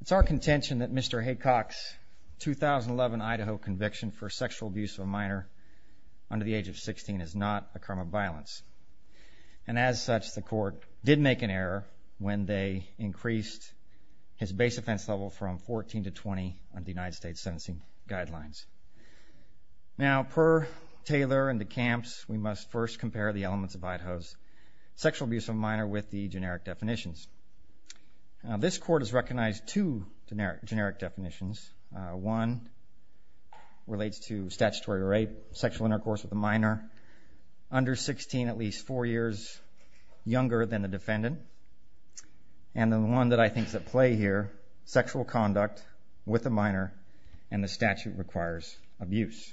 It's our contention that Mr. Haycock's 2011 Idaho conviction for sexual abuse of a minor under the age of 16 is not a crime of violence, and as such the court did make an error when they increased his base offense level from 14 to 20 under the United States sentencing guidelines. Now per Taylor and the camps, we must first compare the elements of Idaho's sexual abuse of a minor with the generic definitions. This court has recognized two generic definitions. One relates to statutory rape, sexual intercourse with a minor under 16, at least four years than the defendant, and the one that I think is at play here, sexual conduct with a minor and the statute requires abuse.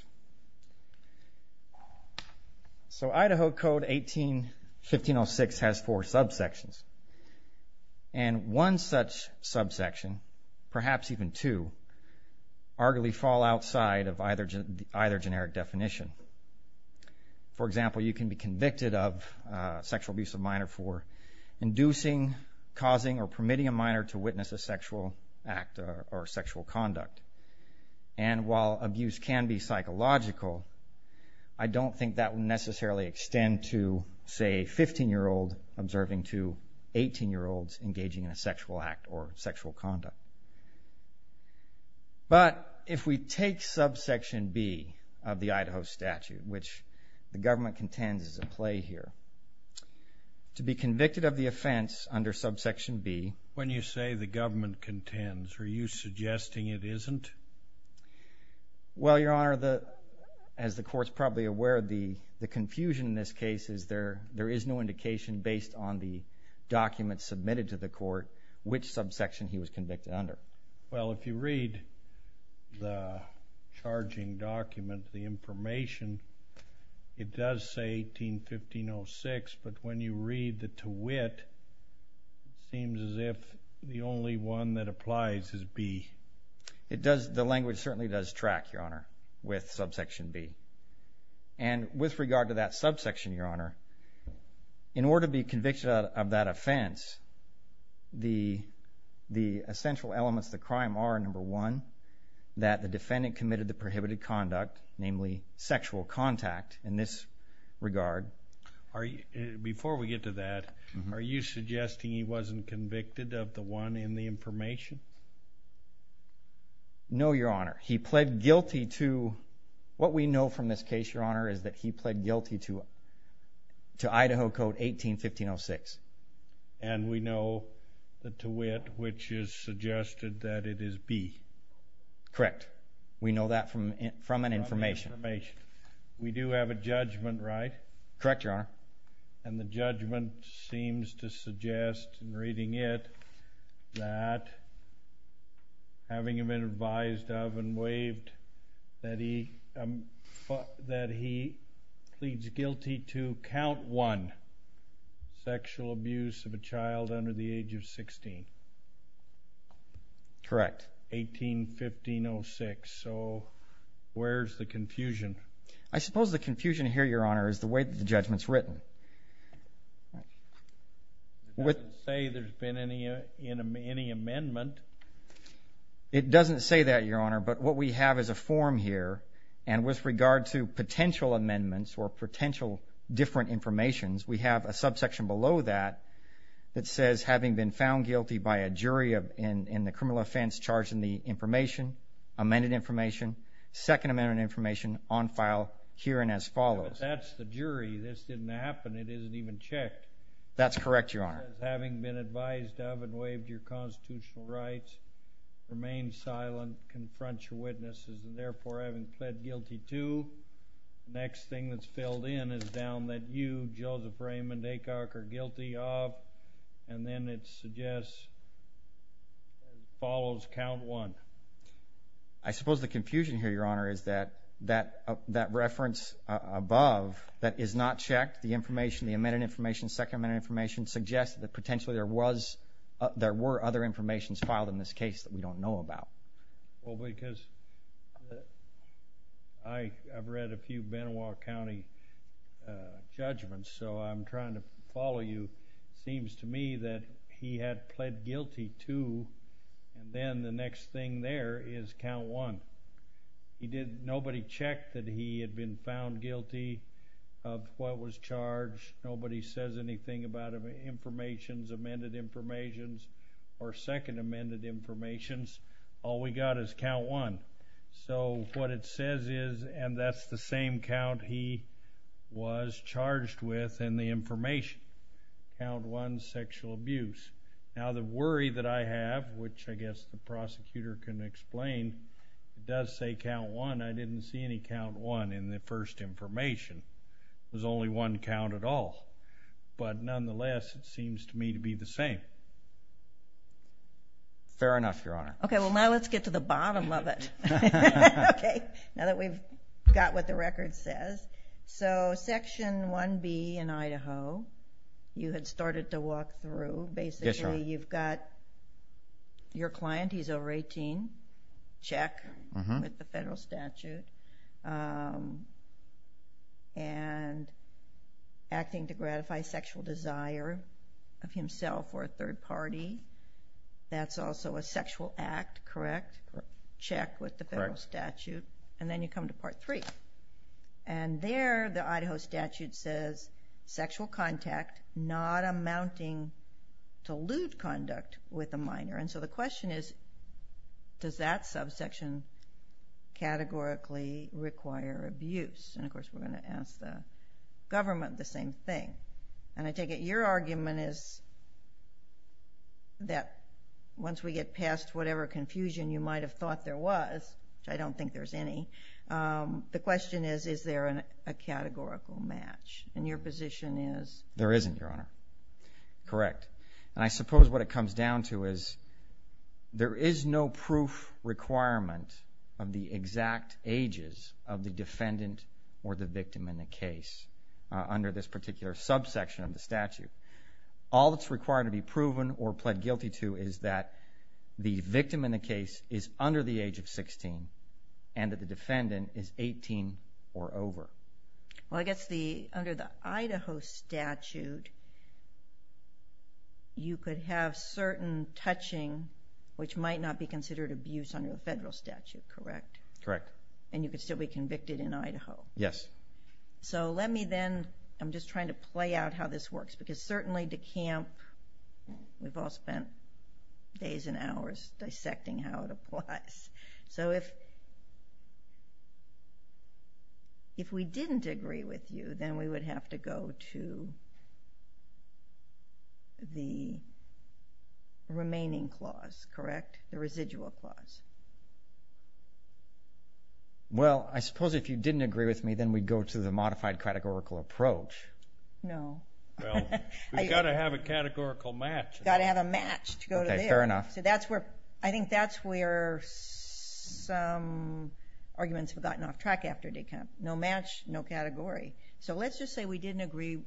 So Idaho Code 18-1506 has four subsections, and one such subsection, perhaps even two, arguably fall outside of either generic definition. For example, you can be convicted of sexual abuse of a minor for inducing, causing, or permitting a minor to witness a sexual act or sexual conduct. And while abuse can be psychological, I don't think that will necessarily extend to, say, a 15-year-old observing two 18-year-olds engaging in a sexual act or sexual conduct. But if we take subsection B of the Idaho statute, which the government contends is at play here, to be convicted of the offense under subsection B... When you say the government contends, are you suggesting it isn't? Well, Your Honor, as the court's probably aware, the confusion in this case is there Well, if you read the charging document, the information, it does say 18-1506, but when you read the twit, it seems as if the only one that applies is B. It does. The language certainly does track, Your Honor, with subsection B. And with regard to that subsection, Your Honor, in order to be convicted of that offense, the essential elements of the crime are, number one, that the defendant committed the prohibited conduct, namely sexual contact, in this regard. Before we get to that, are you suggesting he wasn't convicted of the one in the information? No, Your Honor. He pled guilty to... What we know from this case, Your Honor, is that he pled guilty to Idaho Code 18-1506. And we know the twit, which is suggested that it is B. Correct. We know that from an information. We do have a judgment, right? Correct, Your Honor. And the judgment seems to suggest, in reading it, that having been advised of and waived that he pleads guilty to, count one, sexual abuse of a child under the age of 16. Correct. 18-1506. So, where's the confusion? I suppose the confusion here, Your Honor, is the way that the judgment's written. It doesn't say there's been any amendment. It doesn't say that, Your Honor, but what we have is a form here. And with regard to potential amendments or potential different information, we have a subsection below that that says, having been found guilty by a jury in the criminal offense charged in the information, amended information, second amended information on file herein as follows. But that's the jury. This didn't happen. It isn't even checked. That's correct, Your Honor. Having been advised of and waived your constitutional rights, remain silent, confront your witnesses, and therefore having pled guilty to, the next thing that's filled in is down that you, Joseph Raymond Aycock, are guilty of. And then it suggests, as follows, count one. I suppose the confusion here, Your Honor, is that that reference above that is not checked, the information, the amended information, second amended information, suggests that potentially there was, there were other information filed in this case that we don't know about. Well, because I've read a few Benoist County judgments, so I'm trying to follow you. It seems to me that he had pled guilty to, and then the next thing there is count one. He did, nobody checked that he had been found guilty of what was charged. Nobody says anything about information, amended information, or second amended information. All we got is count one. So what it says is, and that's the same count he was charged with in the information, count one, sexual abuse. Now, the worry that I have, which I guess the prosecutor can explain, it does say count one. I didn't see any count one in the first information. There's only one count at all. But nonetheless, it seems to me to be the same. Fair enough, Your Honor. Okay. Well, now let's get to the bottom of it. Okay. Now that we've got what the record says. So section 1B in Idaho, you had started to walk through. Yes, Your Honor. Basically, you've got your client, he's over 18, check with the federal statute, and acting to gratify sexual desire of himself or a third party. That's also a sexual act, correct? Correct. Check with the federal statute. Correct. And then you come to part three. And there, the Idaho statute says, sexual contact not amounting to lewd conduct with a minor. And so the question is, does that subsection categorically require abuse? And of course, we're going to ask the government the same thing. And I take it your argument is that once we get past whatever confusion you might have about what there was, which I don't think there's any, the question is, is there a categorical match? And your position is? There isn't, Your Honor. Correct. And I suppose what it comes down to is, there is no proof requirement of the exact ages of the defendant or the victim in the case under this particular subsection of the statute. All that's required to be proven or pled guilty to is that the victim in the case is under the age of 16 and that the defendant is 18 or over. Well, I guess under the Idaho statute, you could have certain touching which might not be considered abuse under a federal statute, correct? Correct. And you could still be convicted in Idaho? Yes. So let me then, I'm just trying to play out how this works because certainly DeCamp, we've all spent days and hours dissecting how it applies. So if we didn't agree with you, then we would have to go to the remaining clause, correct? The residual clause. Well, I suppose if you didn't agree with me, then we'd go to the modified categorical approach. No. Well, we've got to have a categorical match. We've got to have a match to go to there. Okay, fair enough. So that's where, I think that's where some arguments have gotten off track after DeCamp. No match, no category. So let's just say we didn't agree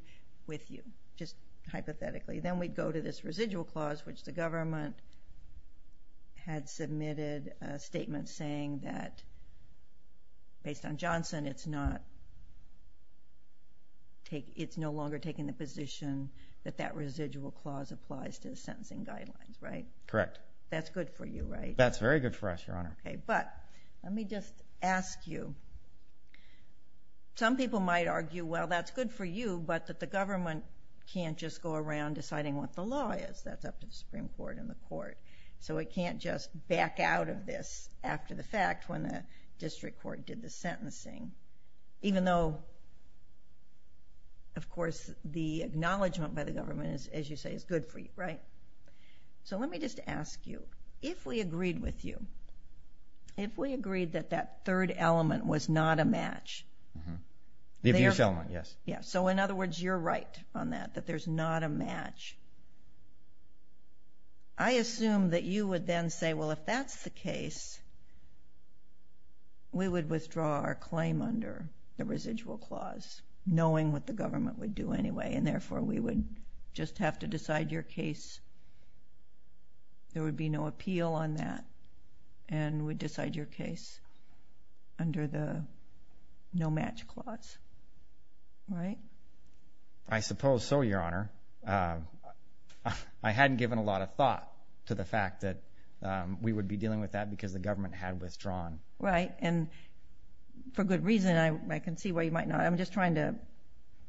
with you, just hypothetically, then we'd go to this residual clause which the government had submitted a statement saying that based on Johnson, then it's not, it's no longer taking the position that that residual clause applies to the sentencing guidelines, right? Correct. That's good for you, right? That's very good for us, Your Honor. Okay, but let me just ask you. Some people might argue, well, that's good for you, but that the government can't just go around deciding what the law is, that's up to the Supreme Court and the court. So it can't just back out of this after the fact when the district court did the sentencing, even though, of course, the acknowledgment by the government, as you say, is good for you, right? So let me just ask you, if we agreed with you, if we agreed that that third element was not a match. The abuse element, yes. Yes. So in other words, you're right on that, that there's not a match. I assume that you would then say, well, if that's the case, we would withdraw our claim under the residual clause, knowing what the government would do anyway, and therefore, we would just have to decide your case, there would be no appeal on that, and we'd decide your case under the no match clause, right? I suppose so, Your Honor. I hadn't given a lot of thought to the fact that we would be dealing with that because the government had withdrawn. Right. And for good reason, I can see why you might not. I'm just trying to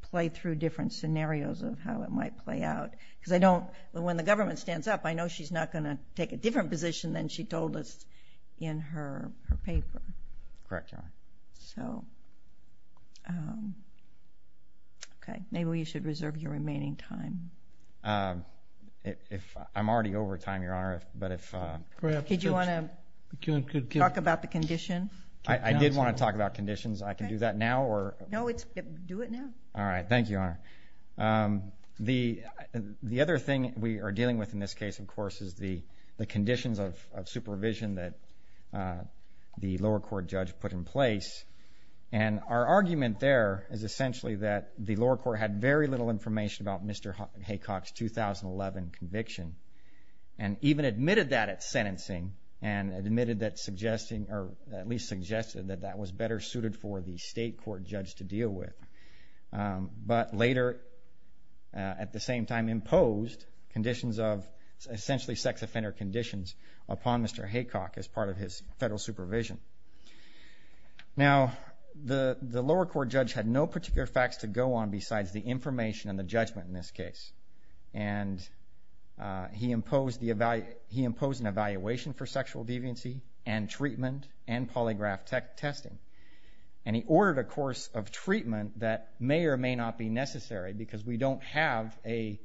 play through different scenarios of how it might play out. Because I don't, when the government stands up, I know she's not going to take a different position than she told us in her paper. Correct, Your Honor. So, okay, maybe we should reserve your remaining time. I'm already over time, Your Honor, but if... Did you want to talk about the condition? I did want to talk about conditions. I can do that now, or... No, do it now. All right, thank you, Your Honor. The other thing we are dealing with in this case, of course, is the conditions of supervision that the lower court judge put in place. And our argument there is essentially that the lower court had very little information about Mr. Haycock's 2011 conviction, and even admitted that at sentencing, and admitted that suggesting, or at least suggested that that was better suited for the state court judge to deal with. But later, at the same time, imposed conditions of, essentially sex offender conditions upon Mr. Haycock as part of his federal supervision. Now, the lower court judge had no particular facts to go on besides the information and the judgment in this case. And he imposed an evaluation for sexual deviancy, and treatment, and polygraph testing. And he ordered a course of treatment that may or may not be necessary, because we don't have a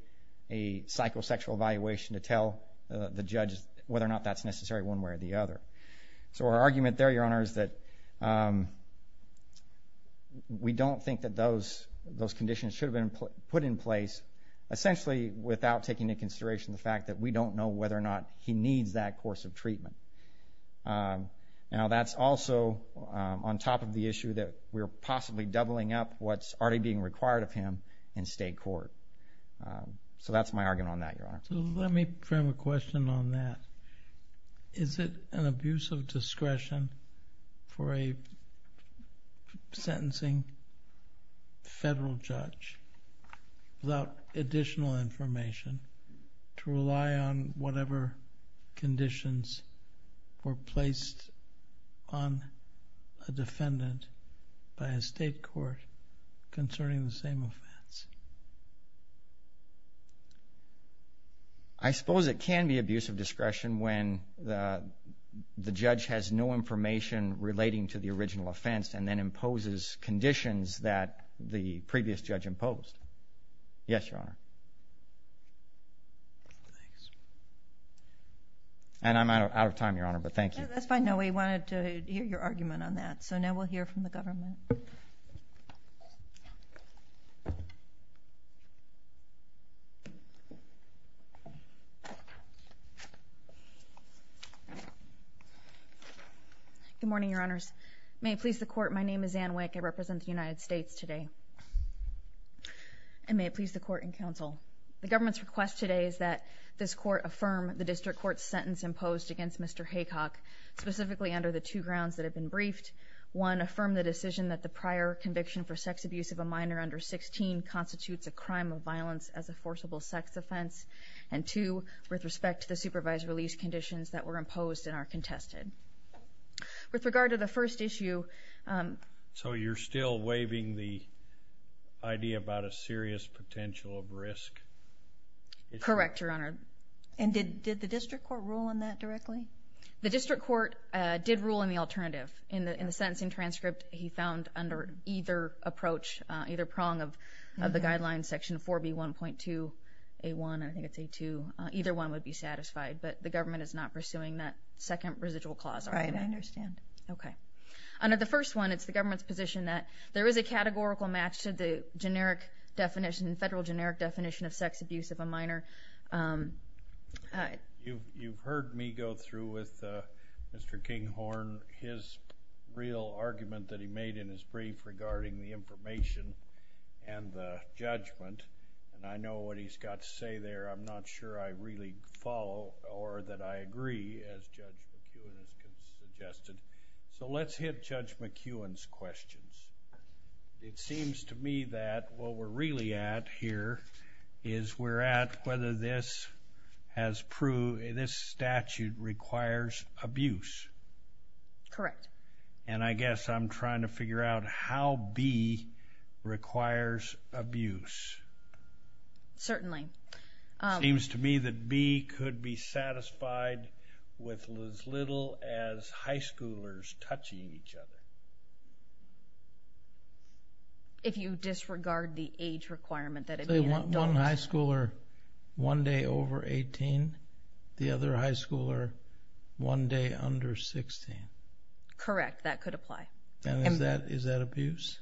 psychosexual evaluation to tell the judge whether or not that's necessary one way or the other. So our argument there, Your Honor, is that we don't think that those conditions should have been put in place, essentially without taking into consideration the fact that we don't know whether or not he needs that course of treatment. Now that's also on top of the issue that we're possibly doubling up what's already being required of him in state court. So that's my argument on that, Your Honor. Let me frame a question on that. Is it an abuse of discretion for a sentencing federal judge without additional information to rely on whatever conditions were placed on a defendant by a state court concerning the same offense? I suppose it can be abuse of discretion when the judge has no information relating to the original offense and then imposes conditions that the previous judge imposed. Yes, Your Honor. And I'm out of time, Your Honor, but thank you. That's fine. No, we wanted to hear your argument on that. So now we'll hear from the government. Good morning, Your Honors. May it please the Court, my name is Anne Wick. I represent the United States today. And may it please the Court and Counsel, the government's request today is that this Court affirm the district court's sentence imposed against Mr. Haycock, specifically under the two grounds that have been briefed. One, affirm the decision that the prior conviction for sex abuse of a minor under 16 constitutes a crime of violence as a forcible sex offense. And two, with respect to the supervised release conditions that were imposed and are contested. With regard to the first issue... So you're still waiving the idea about a serious potential of risk? Correct, Your Honor. And did the district court rule on that directly? The district court did rule on the alternative. In the sentencing transcript, he found under either approach, either prong of the guidelines, section 4B1.2A1, I think it's A2, either one would be satisfied. But the government is not pursuing that second residual clause. Right, I understand. Okay. Under the first one, it's the government's position that there is a categorical match to the generic definition, federal generic definition of sex abuse of a minor. You've heard me go through with Mr. Kinghorn, his real argument that he made in his brief regarding the information and the judgment, and I know what he's got to say there. I'm not sure I really follow or that I agree, as Judge McEwen has suggested. So let's hit Judge McEwen's questions. It seems to me that what we're really at here is we're at whether this statute requires abuse. Correct. And I guess I'm trying to figure out how B requires abuse. Certainly. It seems to me that B could be satisfied with as little as high schoolers touching each other. If you disregard the age requirement that it would be an adult. One high schooler one day over 18, the other high schooler one day under 16. Correct. That could apply. And is that abuse?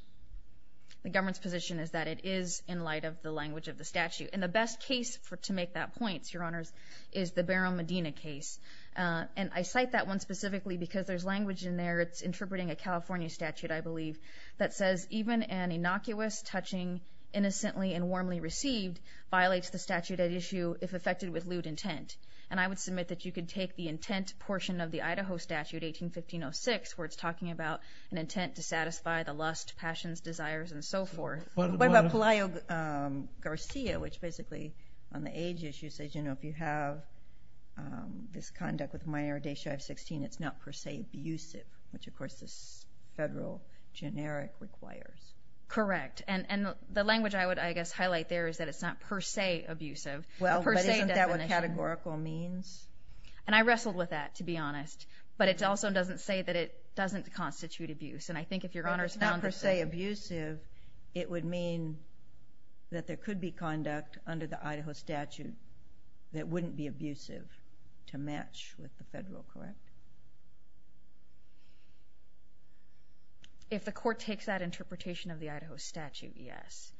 The government's position is that it is in light of the language of the statute. And the best case to make that point, Your Honors, is the Barrow-Medina case. And I cite that one specifically because there's language in there. It's interpreting a California statute, I believe, that says even an innocuous touching innocently and warmly received violates the statute at issue if affected with lewd intent. And I would submit that you could take the intent portion of the Idaho statute, 1815-06, where it's talking about an intent to satisfy the lust, passions, desires, and so forth. What about Pelayo-Garcia, which basically on the age issue says, you know, if you have this conduct with minor adhesion of 16, it's not per se abusive, which, of course, this federal generic requires. Correct. And the language I would, I guess, highlight there is that it's not per se abusive. Well, but isn't that what categorical means? And I wrestled with that, to be honest. But it also doesn't say that it doesn't constitute abuse. And I think if Your Honors found it. If it's not per se abusive, it would mean that there could be conduct under the Idaho statute that wouldn't be abusive to match with the federal, correct? If the court takes that interpretation of the Idaho statute, yes.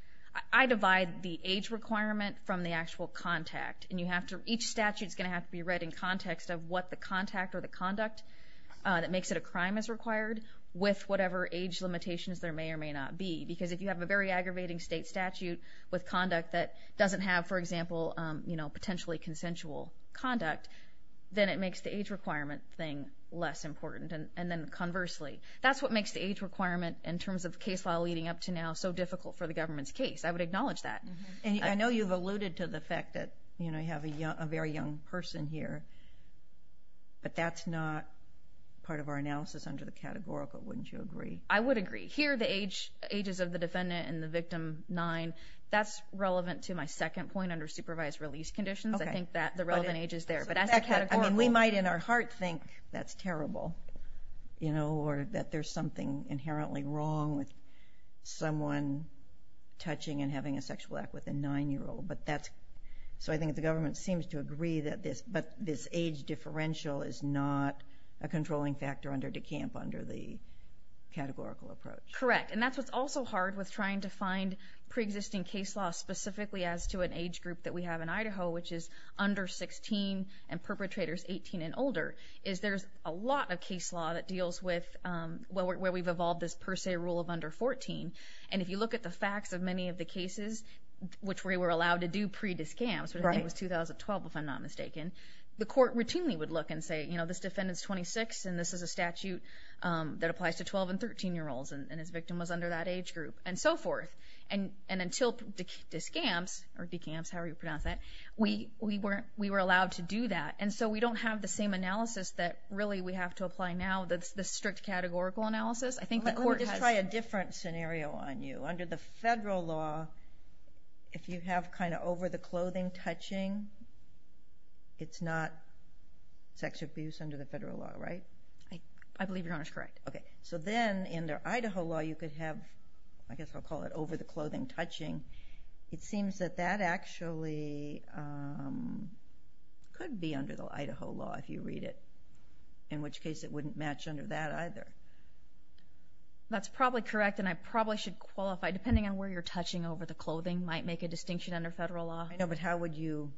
I divide the age requirement from the actual contact. And you have to, each statute's going to have to be read in context of what the contact or the conduct that makes it a crime is required with whatever age limitations there may or may not be. Because if you have a very aggravating state statute with conduct that doesn't have, for example, potentially consensual conduct, then it makes the age requirement thing less important. And then conversely, that's what makes the age requirement in terms of case law leading up to now so difficult for the government's case. I would acknowledge that. And I know you've alluded to the fact that, you know, you have a very young person here. But that's not part of our analysis under the categorical, wouldn't you agree? I would agree. Here, the age, ages of the defendant and the victim, nine, that's relevant to my second point under supervised release conditions. I think that the relevant age is there. But that's the categorical. I mean, we might in our heart think that's terrible, you know, or that there's something inherently wrong with someone touching and having a sexual act with a nine-year-old. But that's, so I think the government seems to agree that this, but this age differential is not a controlling factor under DeCamp under the categorical approach. Correct. And that's what's also hard with trying to find pre-existing case law specifically as to an age group that we have in Idaho, which is under 16 and perpetrators 18 and older, is there's a lot of case law that deals with, well, where we've evolved this per se rule of under 14. And if you look at the facts of many of the cases, which we were allowed to do pre-DeCamps, which I think was 2012 if I'm not mistaken, the court routinely would look and say, you know, this defendant's 26 and this is a statute that applies to 12 and 13-year-olds and his victim was under that age group and so forth. And until DeCamps, or DeCamps, however you pronounce that, we were allowed to do that. And so we don't have the same analysis that really we have to apply now, the strict categorical analysis. I think the court has- Let me just try a different scenario on you. Under the federal law, if you have kind of over-the-clothing touching, it's not sex abuse under the federal law, right? I believe Your Honor's correct. Okay. So then, under Idaho law, you could have, I guess I'll call it over-the-clothing touching. It seems that that actually could be under the Idaho law if you read it, in which case it wouldn't match under that either. That's probably correct and I probably should qualify, depending on where you're touching over-the-clothing might make a distinction under federal law. I know, but how would you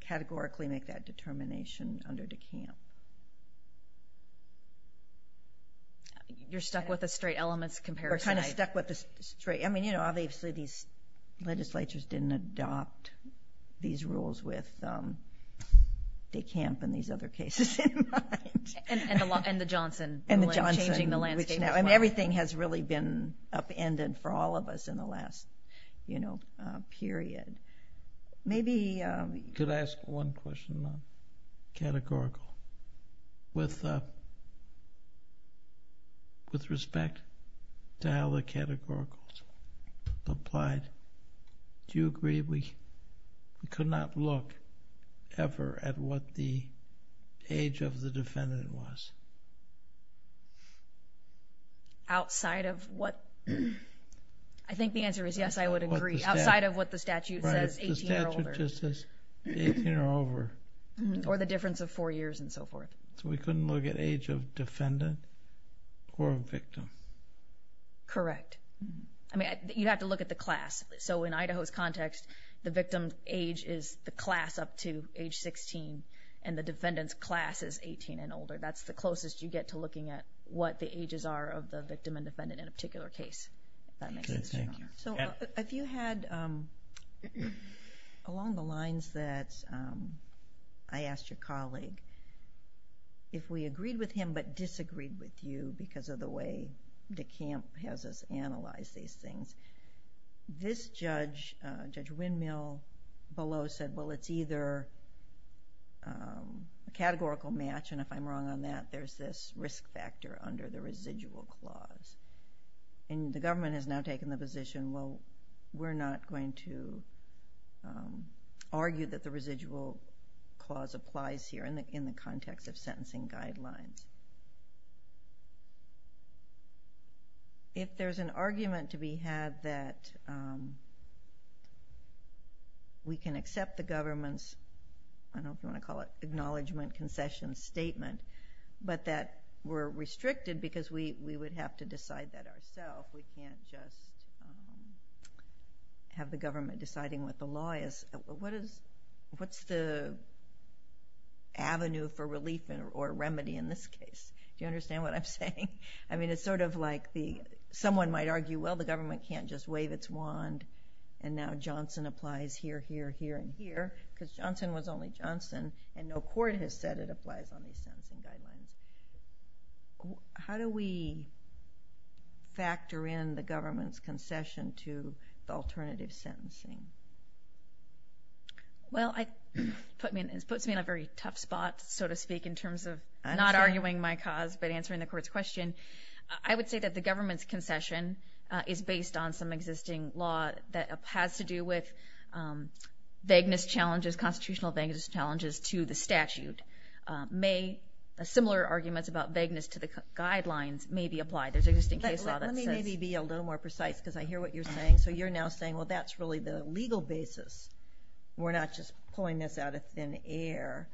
categorically make that determination under DeCamps? You're stuck with a straight elements comparison. We're kind of stuck with the straight, I mean, obviously these legislatures didn't adopt these rules with DeCamps and these other cases in mind. And the Johnson- And the Johnson- Changing the landscape- Which now, I mean, everything has really been upended for all of us in the last period. Maybe- We could ask one question, though, categorical, with respect to how the categoricals applied. Do you agree we could not look ever at what the age of the defendant was? Outside of what, I think the answer is yes, I would agree. Outside of what the statute says, 18 or older. Or the difference of four years and so forth. So we couldn't look at age of defendant or victim? Correct. I mean, you'd have to look at the class. So in Idaho's context, the victim age is the class up to age 16 and the defendant's class is 18 and older. That's the closest you get to looking at what the ages are of the victim and defendant in a particular case. If that makes sense. Thank you. So if you had, along the lines that I asked your colleague, if we agreed with him but disagreed with you because of the way DeCamp has us analyze these things, this judge, Judge Windmill below said, well, it's either a categorical match, and if I'm wrong on that, there's this risk factor under the residual clause. And the government has now taken the position, well, we're not going to argue that the residual clause applies here in the context of sentencing guidelines. If there's an argument to be had that we can accept the government's, I don't know if you want to call it acknowledgment concession statement, but that we're restricted because we would have to decide that ourself, we can't just have the government deciding what the law is. What's the avenue for relief or remedy in this case? Do you understand what I'm saying? I mean, it's sort of like someone might argue, well, the government can't just wave its wand and now Johnson applies here, here, here, and here because Johnson was only Johnson and no court has said it applies on these sentencing guidelines. How do we factor in the government's concession to the alternative sentencing? Well, it puts me in a very tough spot, so to speak, in terms of not arguing my cause but answering the court's question. I would say that the government's concession is based on some existing law that has to do with vagueness challenges, constitutional vagueness challenges to the statute. May similar arguments about vagueness to the guidelines may be applied. There's existing case law that says... Let me maybe be a little more precise because I hear what you're saying. So you're now saying, well, that's really the legal basis. We're not just pulling this out of thin air.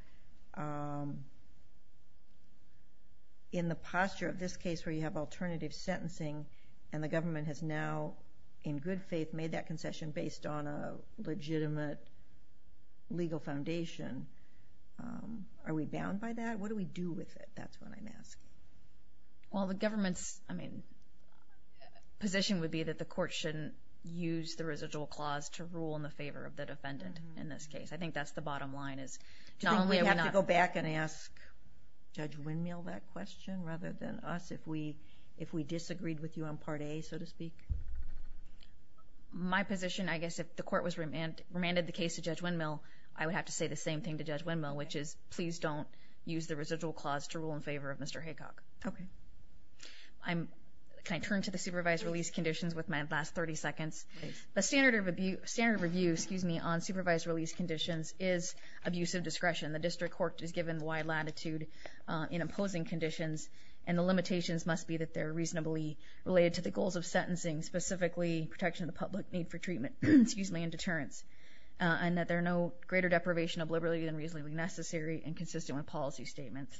In the posture of this case where you have alternative sentencing and the government has now, in good faith, made that concession based on a legitimate legal foundation, are we bound by that? What do we do with it? That's what I'm asking. Well, the government's, I mean, position would be that the court shouldn't use the residual clause to rule in the favor of the defendant in this case. I think that's the bottom line is not only are we not... Do you think we have to go back and ask Judge Windmill that question rather than us? If we disagreed with you on part A, so to speak? My position, I guess, if the court remanded the case to Judge Windmill, I would have to say the same thing to Judge Windmill, which is please don't use the residual clause to rule in favor of Mr. Haycock. Okay. Can I turn to the supervised release conditions with my last 30 seconds? The standard of review on supervised release conditions is abuse of discretion. The district court is given wide latitude in imposing conditions, and the limitations must be that they're reasonably related to the goals of sentencing, specifically protection of the public need for treatment, excuse me, and deterrence, and that there are no greater deprivation of liberty than reasonably necessary and consistent with policy statements.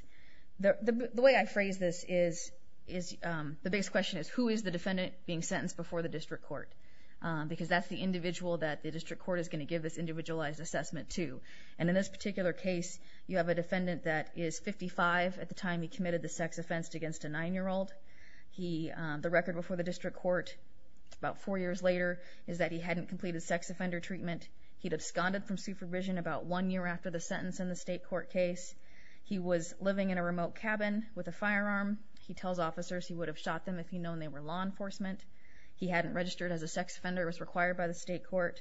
The way I phrase this is the biggest question is who is the defendant being sentenced before the district court? Because that's the individual that the district court is going to give this individualized assessment to. And in this particular case, you have a defendant that is 55 at the time he committed the sex offense against a nine-year-old. The record before the district court about four years later is that he hadn't completed sex offender treatment. He'd absconded from supervision about one year after the sentence in the state court case. He was living in a remote cabin with a firearm. He tells officers he would have shot them if he'd known they were law enforcement. He hadn't registered as a sex offender, was required by the state court,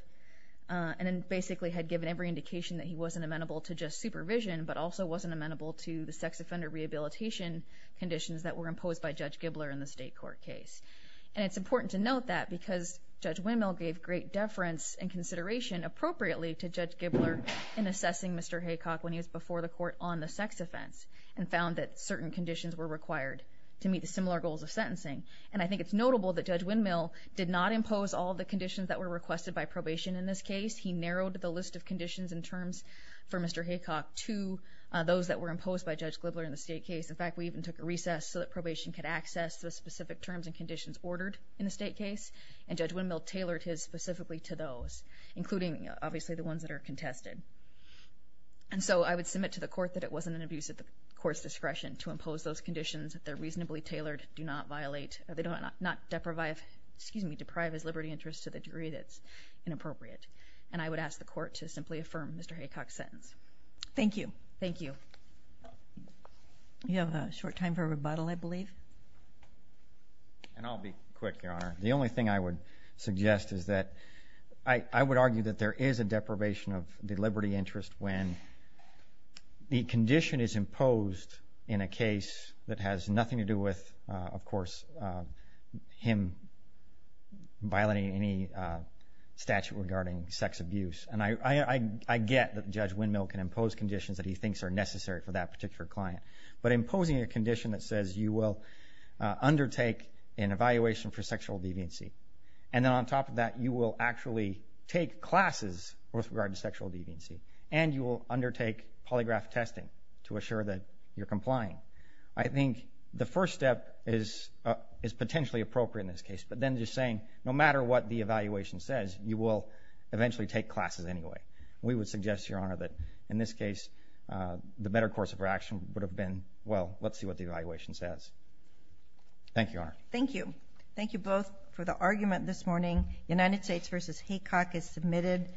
and then basically had given every indication that he wasn't amenable to just supervision but also wasn't amenable to the sex offender rehabilitation conditions that were imposed by Judge Gibler in the state court case. And it's important to note that because Judge Windmill gave great deference and consideration appropriately to Judge Gibler in assessing Mr. Haycock when he was before the court on the sex offense and found that certain conditions were required to meet the similar goals of sentencing. And I think it's notable that Judge Windmill did not impose all the conditions that were requested by probation in this case. He narrowed the list of conditions and terms for Mr. Haycock to those that were imposed by Judge Gibler in the state case. In fact, we even took a recess so that probation could access the specific terms and conditions ordered in the state case. And Judge Windmill tailored his specifically to those, including, obviously, the ones that are contested. And so I would submit to the court that it wasn't an abuse of the court's discretion to impose those conditions that they're reasonably tailored, do not violate, or they do not deprive his liberty interest to the degree that's inappropriate. And I would ask the court to simply affirm Mr. Haycock's sentence. Thank you. Thank you. You have a short time for rebuttal, I believe. And I'll be quick, Your Honor. The only thing I would suggest is that I would argue that there is a deprivation of the liberty interest when the condition is imposed in a case that has nothing to do with, of course, him violating any statute regarding sex abuse. And I get that Judge Windmill can impose conditions that he thinks are necessary for that particular client. But imposing a condition that says you will undertake an evaluation for sexual deviancy, and then on top of that, you will actually take classes with regard to sexual deviancy, and you will undertake polygraph testing to assure that you're complying. I think the first step is potentially appropriate in this case, but then just saying, no matter what the evaluation says, you will eventually take classes anyway. We would suggest, Your Honor, that in this case, the better course of action would have been, well, let's see what the evaluation says. Thank you, Your Honor. Thank you. Thank you both for the argument this morning. United States v. Haycock is submitted.